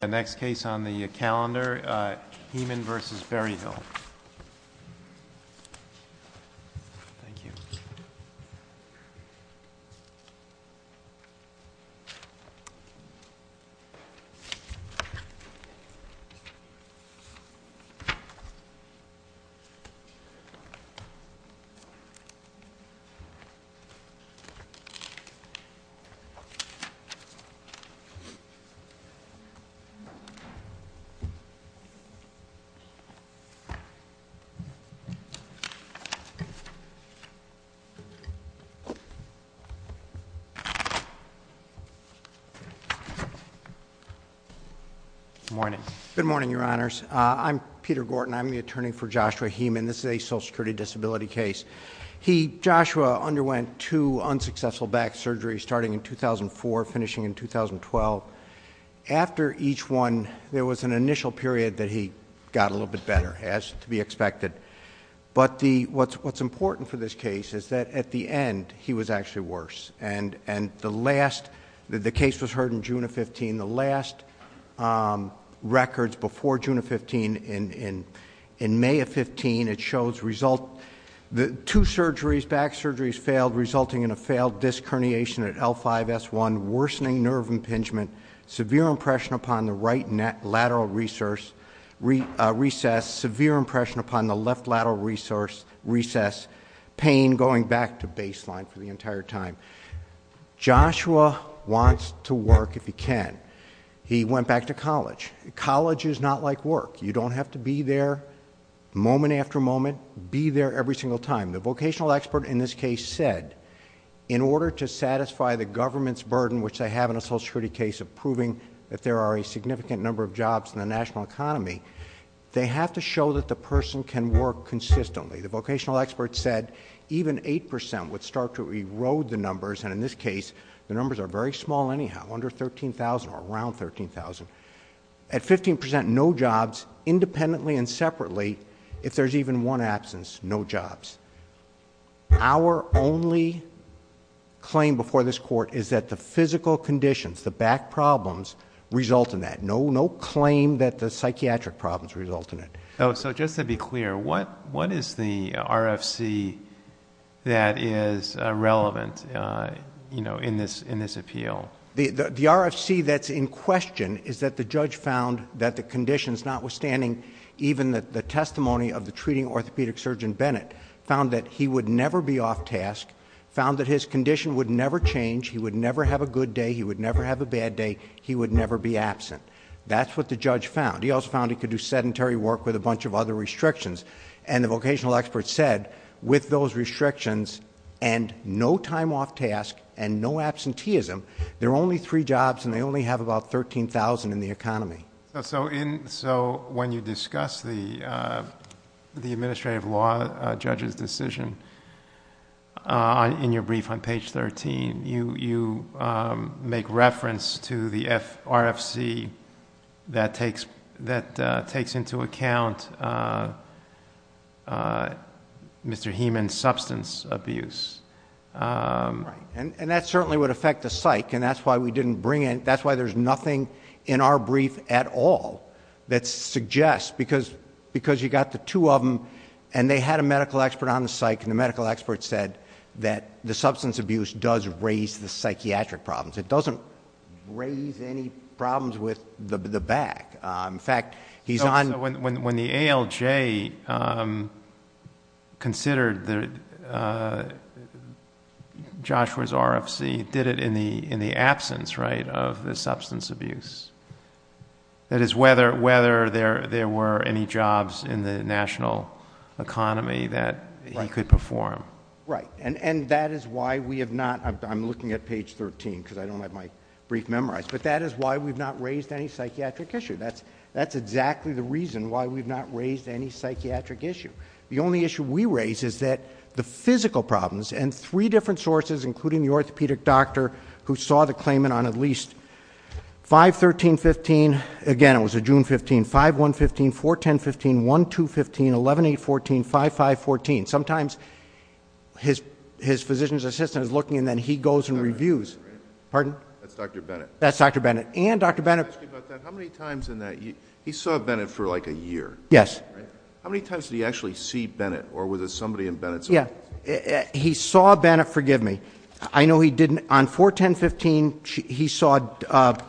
The next case on the calendar, Heaman v. Berryhill. Good morning, Your Honors. I'm Peter Gorton. I'm the attorney for Joshua Heaman. This is a social security disability case. Joshua underwent two unsuccessful back surgeries starting in 2004, finishing in 2012. After each one, there was an initial period that he got a little bit better, as to be expected. But what's important for this case is that at the end, he was actually worse. The case was heard in June of 2015. The last records before June of 2015, in May of 2015, it shows two surgeries, back surgeries failed, resulting in a failed disc herniation at L5-S1, worsening nerve impingement, severe impression upon the right lateral recess, severe impression upon the left lateral recess, pain going back to baseline for the entire time. Joshua wants to work if he can. He went back to college. College is not like work. You don't have to be there moment after moment. Be there every single time. The vocational expert in this case said, in order to satisfy the government's burden, which they have in a social security case of proving that there are a significant number of jobs in the national economy, they have to show that the person can work consistently. The vocational expert said even 8% would start to erode the numbers, and in this case, the numbers are very small anyhow, under 13,000 or around 13,000. At 15%, no jobs, independently and separately, if there's even one absence, no jobs. Our only claim before this court is that the physical conditions, the back problems, result in that. No claim that the psychiatric problems result in it. So just to be clear, what is the RFC that is relevant in this appeal? The RFC that's in question is that the judge found that the conditions, notwithstanding even the testimony of the treating orthopedic surgeon Bennett, found that he would never be off task, found that his condition would never change, he would never have a good day, he would never have a bad day, he would never be absent. That's what the judge found. He also found he could do sedentary work with a bunch of other restrictions, and the vocational expert said, with those restrictions and no time off task and no absenteeism, there are only three jobs and they only have about 13,000 in the economy. So when you discuss the administrative law judge's decision in your brief on page 13, you make reference to the RFC that takes into account Mr. Heeman's substance abuse. That certainly would affect the psych, and that's why we didn't bring in... that's why there's nothing in our brief at all that suggests, because you got the two of them and they had a medical expert on the psych and the medical expert said that the substance abuse does raise the psychiatric problems. It doesn't raise any problems with the back. In fact, he's on... So when the ALJ considered Joshua's RFC, it did it in the absence, right, of the substance abuse. That is, whether there were any jobs in the national economy that he could perform. Right, and that is why we have not... I'm looking at page 13 because I don't have my brief memorized, but that is why we've not raised any psychiatric issue. That's exactly the reason why we've not raised any psychiatric issue. The only issue we raise is that the physical problems, and three different sources, including the orthopedic doctor who saw the claimant on at least 5-13-15, again it was a June 15, 5-1-15, 4-10-15, 1-2-15, 11-8-14, 5-5-14. Sometimes his physician's assistant is looking and then he goes and reviews. Pardon? That's Dr. Bennett. That's Dr. Bennett. And Dr. Bennett... Let me ask you about that. How many times in that... he saw Bennett for like a year. Yes. How many times did he actually see Bennett, or was it somebody in Bennett's office? Yeah. He saw Bennett, forgive me. I know he didn't... on 4-10-15, he saw... Mr.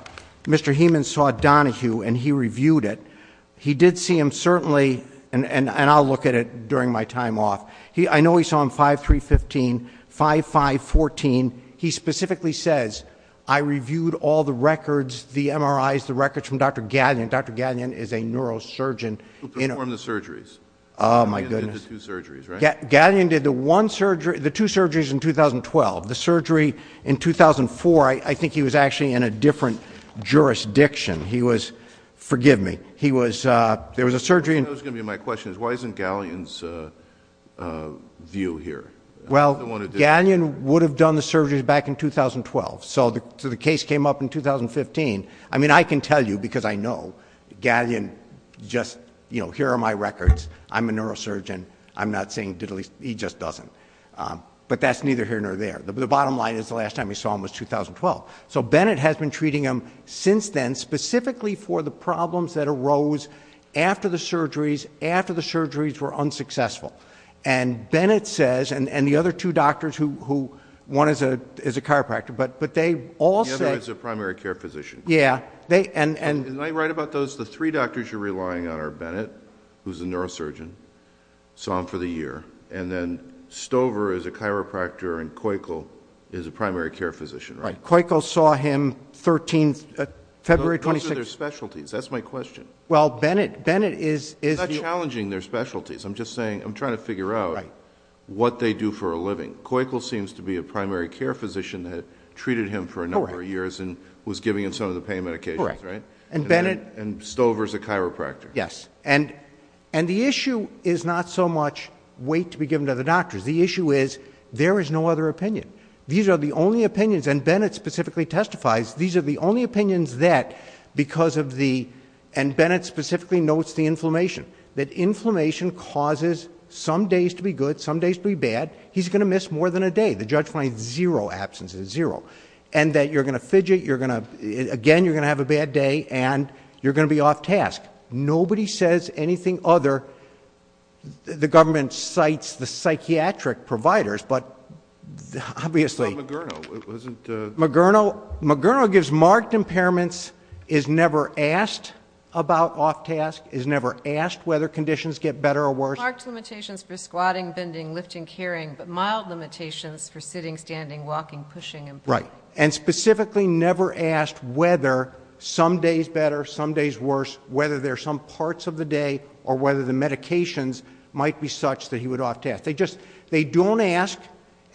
Bennett... during my time off. I know he saw him 5-3-15, 5-5-14. He specifically says, I reviewed all the records, the MRIs, the records from Dr. Gallion. Dr. Gallion is a neurosurgeon. Who performed the surgeries. Oh my goodness. He did two surgeries, right? Gallion did the one surgery... the two surgeries in 2012. The surgery in 2004, I think he was actually in a different jurisdiction. He was... forgive me. He was... there was a surgery in... What's the view here? Well, Gallion would have done the surgeries back in 2012. So, the case came up in 2015. I mean, I can tell you, because I know, Gallion just... you know, here are my records. I'm a neurosurgeon. I'm not saying... he just doesn't. But, that's neither here nor there. The bottom line is, the last time he saw him was 2012. So, Bennett has been treating him since then, specifically for the problems that arose after the surgeries, after the And Bennett says... and the other two doctors who... one is a chiropractor, but they all said... The other is a primary care physician. Yeah, they... and... Did I write about those? The three doctors you're relying on are Bennett, who's a neurosurgeon, saw him for the year, and then Stover is a chiropractor, and Koichel is a primary care physician, right? Koichel saw him 13th... February 26th. Those are their specialties. That's my question. Well, Bennett... Bennett is... I'm trying to figure out what they do for a living. Koichel seems to be a primary care physician that treated him for a number of years and was giving him some of the pain medications, right? Correct. And Bennett... And Stover is a chiropractor. Yes. And the issue is not so much wait to be given to the doctors. The issue is, there is no other opinion. These are the only opinions... and Bennett specifically testifies, these are the only opinions that, because of the... and Bennett specifically notes the inflammation causes some days to be good, some days to be bad. He's going to miss more than a day. The judge finds zero absences, zero. And that you're going to fidget, you're going to... again, you're going to have a bad day, and you're going to be off task. Nobody says anything other... the government cites the psychiatric providers, but obviously... About Mogerno, it wasn't... Mogerno... Mogerno gives marked impairments, is never asked about off task, is never asked whether conditions get better or worse. Marked limitations for squatting, bending, lifting, carrying, but mild limitations for sitting, standing, walking, pushing and pulling. Right. And specifically never asked whether some days better, some days worse, whether there are some parts of the day, or whether the medications might be such that he would off task. They just... they don't ask,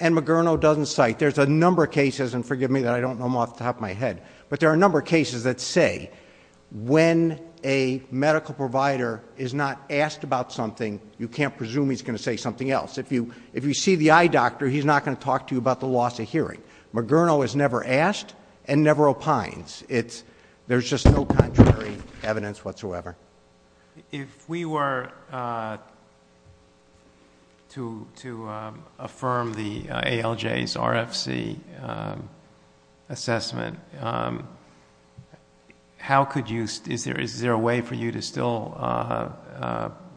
and Mogerno doesn't cite. There's a number of cases, and forgive me that I don't know them off the top of my head, but there are cases that say when a medical provider is not asked about something, you can't presume he's going to say something else. If you see the eye doctor, he's not going to talk to you about the loss of hearing. Mogerno is never asked, and never opines. There's just no contrary evidence whatsoever. If we were to affirm the ALJ's RFC assessment, how could you... is there a way for you to still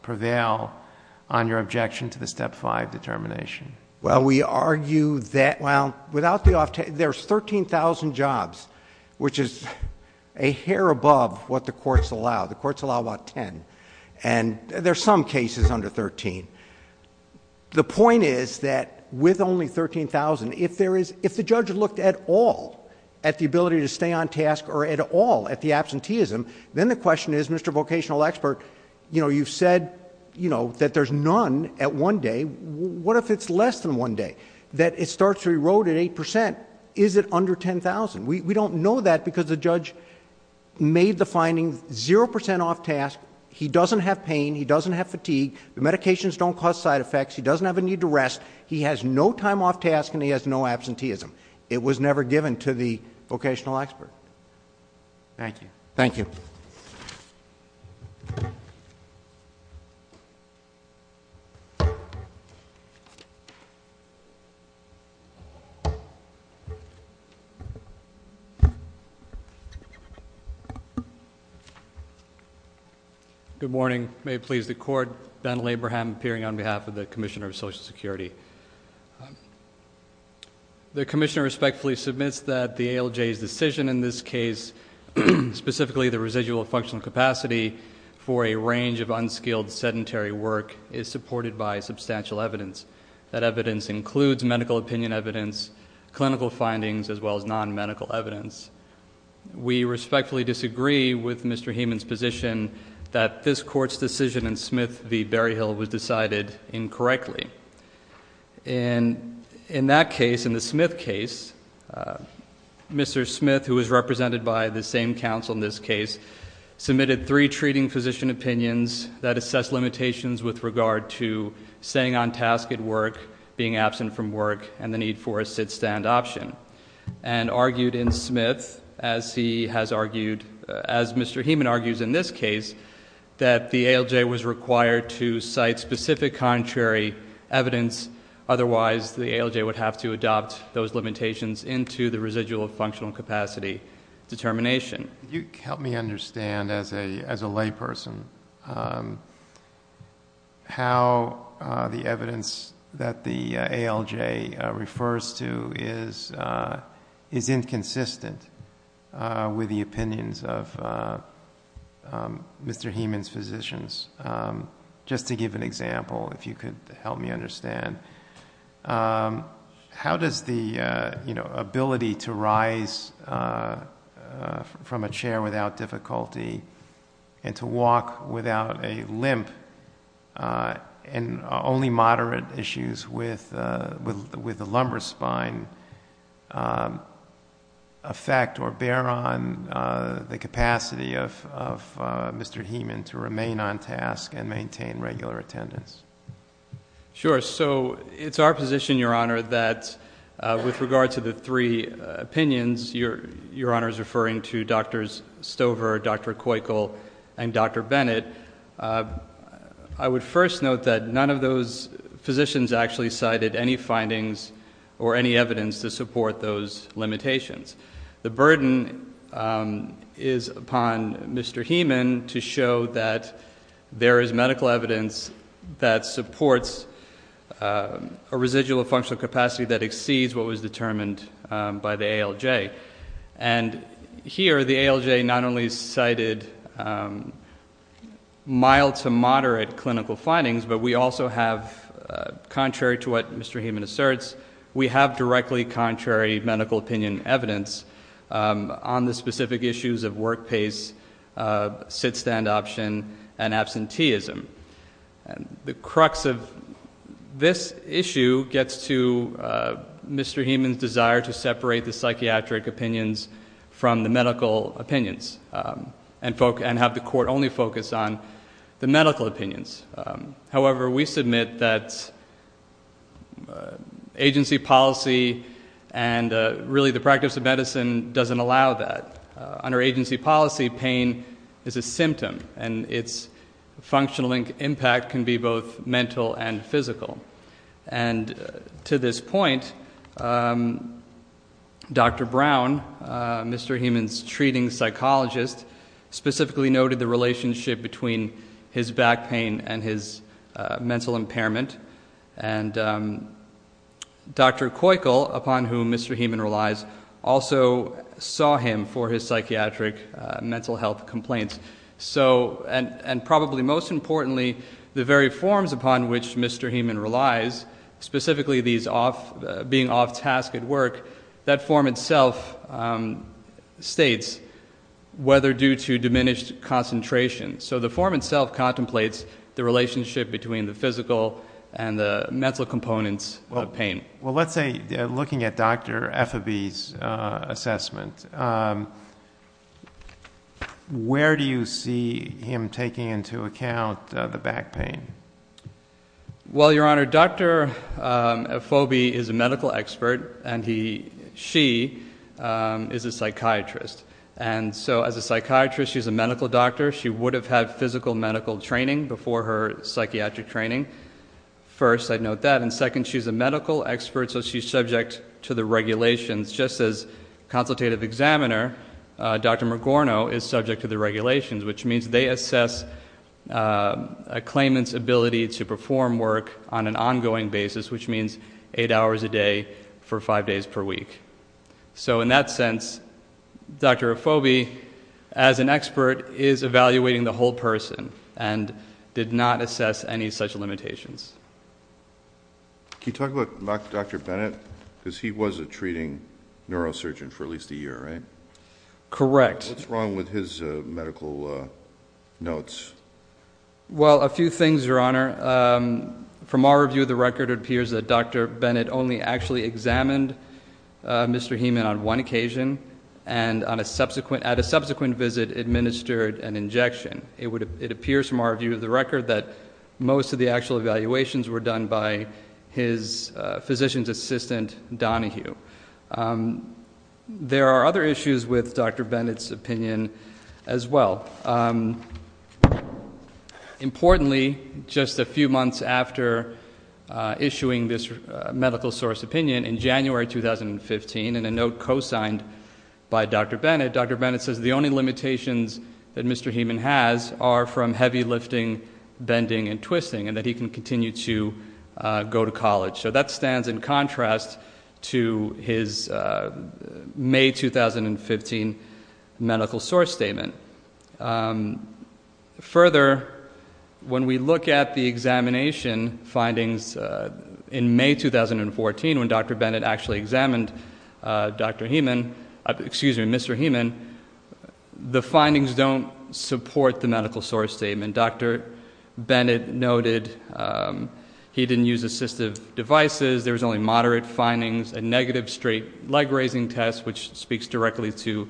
prevail on your objection to the Step 5 determination? Well, we argue that... well, without the... there's 13,000 jobs, which is a hair above what the courts allow. The courts allow about ten, and there's some cases under thirteen. The point is that with only 13,000, if the judge looked at all, at the ability to stay on task, or at all, at the absenteeism, then the question is, Mr. Vocational Expert, you've said that there's none at one day. What if it's less than one day, that it starts to erode at eight percent? Is it under 10,000? We don't know that because the judge made the finding zero percent off task, he doesn't have pain, he doesn't have fatigue, the medications don't cause side effects, he doesn't have a need to rest, he has no time off task, and he has no absenteeism. It was never given to the vocational expert. Thank you. Thank you. Good morning. May it please the court. Ben Labraham, appearing on behalf of the Commissioner of Social Security. The Commissioner respectfully submits that the ALJ's decision in this case, specifically the residual functional capacity for a range of unskilled sedentary work, is supported by substantial evidence. That evidence includes medical opinion evidence, clinical findings, as well as non-medical evidence. We respectfully disagree with Mr. Heman's position that this court's decision in Smith v. Berryhill was decided incorrectly. In that case, in the Smith case, Mr. Smith, who was represented by the same counsel in this case, submitted three treating physician opinions that assess limitations with regard to staying on task at work, and the need for a sit-stand option, and argued in Smith, as he has argued, as Mr. Heman argues in this case, that the ALJ was required to cite specific contrary evidence, otherwise the ALJ would have to adopt those limitations into the residual functional capacity determination. You help me understand, as a layperson, how the evidence that the ALJ refers to is inconsistent with the opinions of Mr. Heman's physicians. Just to give an example, if you could help me understand. How does the ability to rise from a chair without difficulty, and to walk without a limp, and only moderate issues with the lumbar spine, affect or bear on the capacity of Mr. Heman to remain on task and maintain regular attendance? Sure. It's our position, Your Honor, that with regard to the three opinions, Your Honor is referring to Drs. Stover, Dr. Coykel, and Dr. Bennett, I would first note that none of those physicians actually cited any findings or any evidence to support those limitations. The burden is upon Mr. Heman to show that there is medical evidence that supports a residual functional capacity that exceeds what was determined by the ALJ. And here, the ALJ not only cited mild to moderate clinical findings, but we also have, contrary to what Mr. Heman asserts, we have directly contrary medical opinion evidence on the specific issues of work pace, sit-stand option, and absenteeism. The crux of this issue gets to Mr. Heman's desire to separate the psychiatric opinions from the medical opinions, and have the court only focus on the medical opinions. However, we submit that agency policy and really the practice of medicine doesn't allow that. Under agency policy, pain is a symptom, and its functional impact can be both mental and physical. And to this point, Dr. Brown, Mr. Heman's treating psychologist, specifically noted the relationship between his back pain and his mental impairment. And Dr. Coykel, upon whom Mr. Heman relies, also saw him for his psychiatric mental health complaints. So, and probably most importantly, the very forms upon which Mr. Heman relies, specifically these off, being off task at work, that form itself states whether due to diminished concentration. So the form itself contemplates the relationship between the physical and the mental components of pain. Well, let's say, looking at Dr. Effabee's assessment, where do you see him taking into account the back pain? Well, your honor, Dr. Effabee is a medical expert, and he, she, is a psychiatrist. And so as a psychiatrist, she's a medical doctor, she would have had physical medical training before her psychiatric training. First, I'd note that, and second, she's a medical expert, so she's subject to the regulations. Just as consultative examiner, Dr. Morgorno is subject to the regulations, which means they assess a claimant's ability to perform work on an ongoing basis, which means eight hours a day for five days per week. So in that sense, Dr. Effabee, as an expert, is evaluating the whole person, and did not assess any such limitations. Can you talk about Dr. Bennett? Because he was a treating neurosurgeon for at least a year, right? Correct. What's wrong with his medical notes? Well, a few things, your honor. From our review of the record, it appears that Dr. Bennett only actually examined Mr. Heeman on one occasion, and on a subsequent visit, administered an injection. It appears from our view of the record that most of the actual evaluations were done by his physician's assistant, Donahue. There are other issues with Dr. Bennett's opinion as well. Importantly, just a few months after issuing this medical source opinion in January 2015, in a note co-signed by Dr. Bennett, Dr. Bennett says the only limitations that Mr. Heeman has are from heavy lifting, bending, and twisting, and that he can continue to go to college. So that stands in contrast to his May 2015 medical source statement. Further, when we look at the findings when Dr. Bennett actually examined Mr. Heeman, the findings don't support the medical source statement. Dr. Bennett noted he didn't use assistive devices, there was only moderate findings, a negative straight leg raising test, which speaks directly to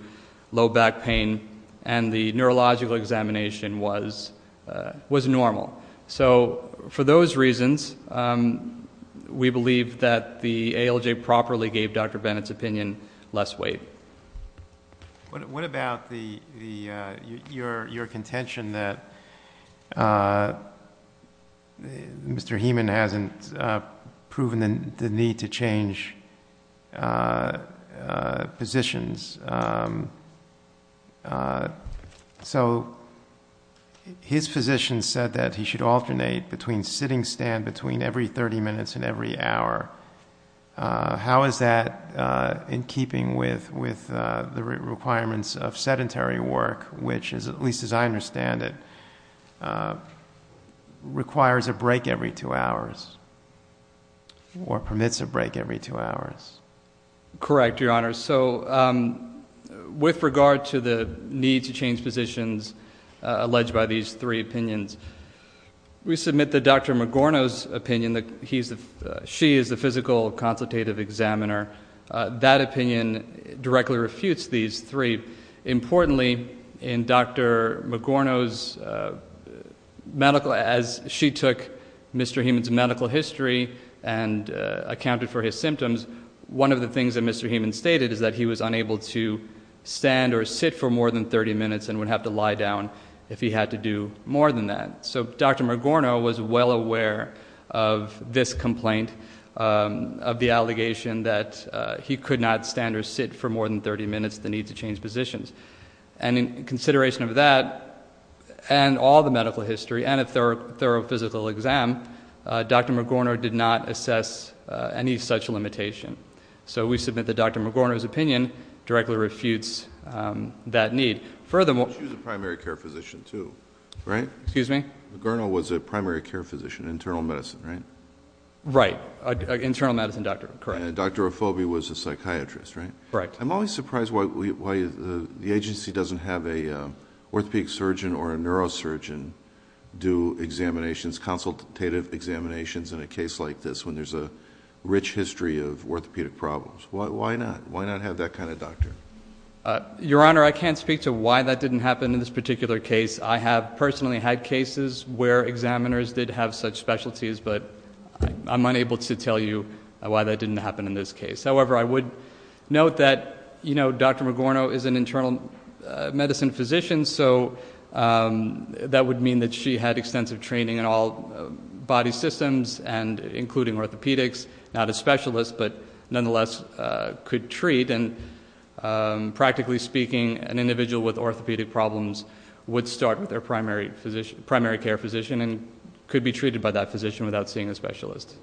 low back pain, and the neurological examination was normal. So, for those reasons, we believe that the ALJ properly gave Dr. Bennett's opinion less weight. What about your contention that Mr. Heeman hasn't proven the need to change positions? So, his physician said that he should alternate between sitting stand every 30 minutes and every hour. How is that in keeping with the requirements of sedentary work, which, at least as I recall, permits a break every two hours? Correct, Your Honor. So, with regard to the need to change positions alleged by these three opinions, we submit that Dr. Magorno's opinion, she is the physical consultative examiner, that opinion directly refutes these three. Importantly, in Dr. Magorno's medical, as she took Mr. Heeman's medical history and accounted for his symptoms, one of the things that Mr. Heeman stated is that he was unable to stand or sit for more than 30 minutes and would have to lie down if he had to do more than that. So, Dr. Magorno was well aware of this complaint, of the allegation that he could not stand or sit for more than 30 minutes, the need to change positions. And in consideration of that, and all the medical history, and a thorough physical exam, Dr. Magorno did not assess any such limitation. So, we submit that Dr. Magorno's opinion directly refutes that need. Furthermore, she was a primary care physician too, right? Excuse me? Magorno was a primary care physician, internal medicine, right? Right, an internal medicine doctor, correct. And Dr. Ofobi was a psychiatrist, right? I'm always surprised why the agency doesn't have a orthopedic surgeon or a neurosurgeon do examinations, consultative examinations in a case like this, when there's a rich history of orthopedic problems. Why not? Why not have that kind of doctor? Your Honor, I can't speak to why that didn't happen in this particular case. I have personally had cases where examiners did have such specialties, but I'm unable to tell you why that didn't happen in this case. However, I would note that Dr. Magorno is an internal medicine physician, so that would mean that she had extensive training in all body systems, including orthopedics, not a specialist, but nonetheless could treat. And practically speaking, an individual with orthopedic problems would start with their primary care physician and could be treated by that physician without seeing a specialist.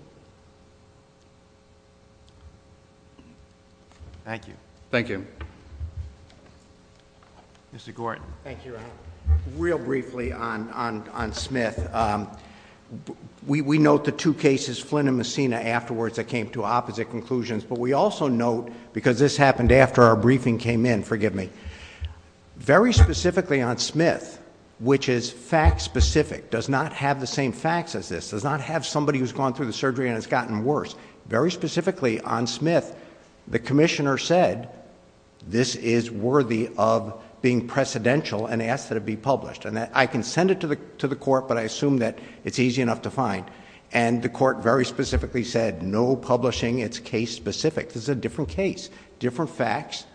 Thank you. Thank you. Mr. Gordon. Thank you, Your Honor. Real briefly on Smith, we note the two cases, Flynn and Messina, afterwards that came to opposite conclusions, but we also note, because this happened after our briefing came in, forgive me, very specifically on Smith, which is fact specific, does not have the same facts as this, does not have somebody who's gone through the surgery and it's gotten worse. Very specifically on Smith, the commissioner said, this is worthy of being precedential and asked that it be published. And I can send it to the court, but I assume that it's easy enough to find. And the court very specifically said, no publishing, it's case specific. This is a different case, different facts.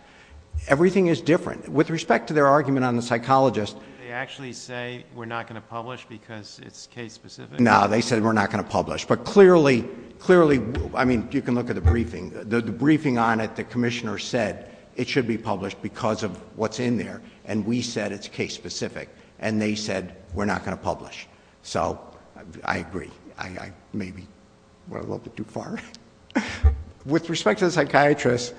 Everything is different. With respect to their argument on the psychologist... Did they actually say, we're not going to publish because it's case specific? No, they said, we're not going to publish. But clearly, I mean, you can look at the briefing. The briefing on it, the commissioner said, it should be published because of what's in there. And we said, it's case specific. And they said, we're not going to publish. So I agree. I maybe went a little bit too far. With respect to the psychiatrist,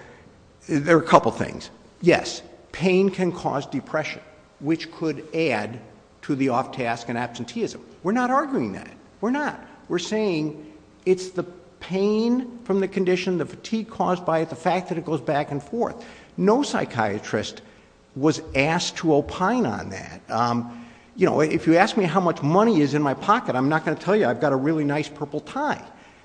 there are a couple things. Yes, pain can cause depression, which could add to the off task and absenteeism. We're not arguing that. We're not. We're saying, it's the pain from the condition, the fatigue caused by it, the fact that it goes back and forth. No psychiatrist was asked to opine on that. If you ask me how much money is in my pocket, I'm not going to tell you. I've got a really nice purple tie.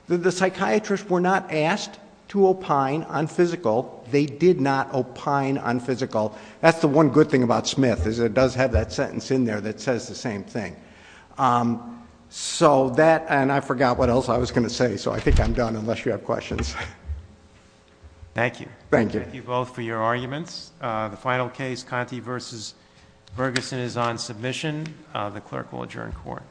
The psychiatrists were not asked to opine on physical. They did not opine on physical. That's the one good thing about Smith, is it does have that sentence in there that says the same thing. So that, and I forgot what else I was going to say, so I think I'm done unless you have questions. Thank you. Thank you both for your arguments. The final case, Conti versus Ferguson is on submission. The clerk will adjourn court.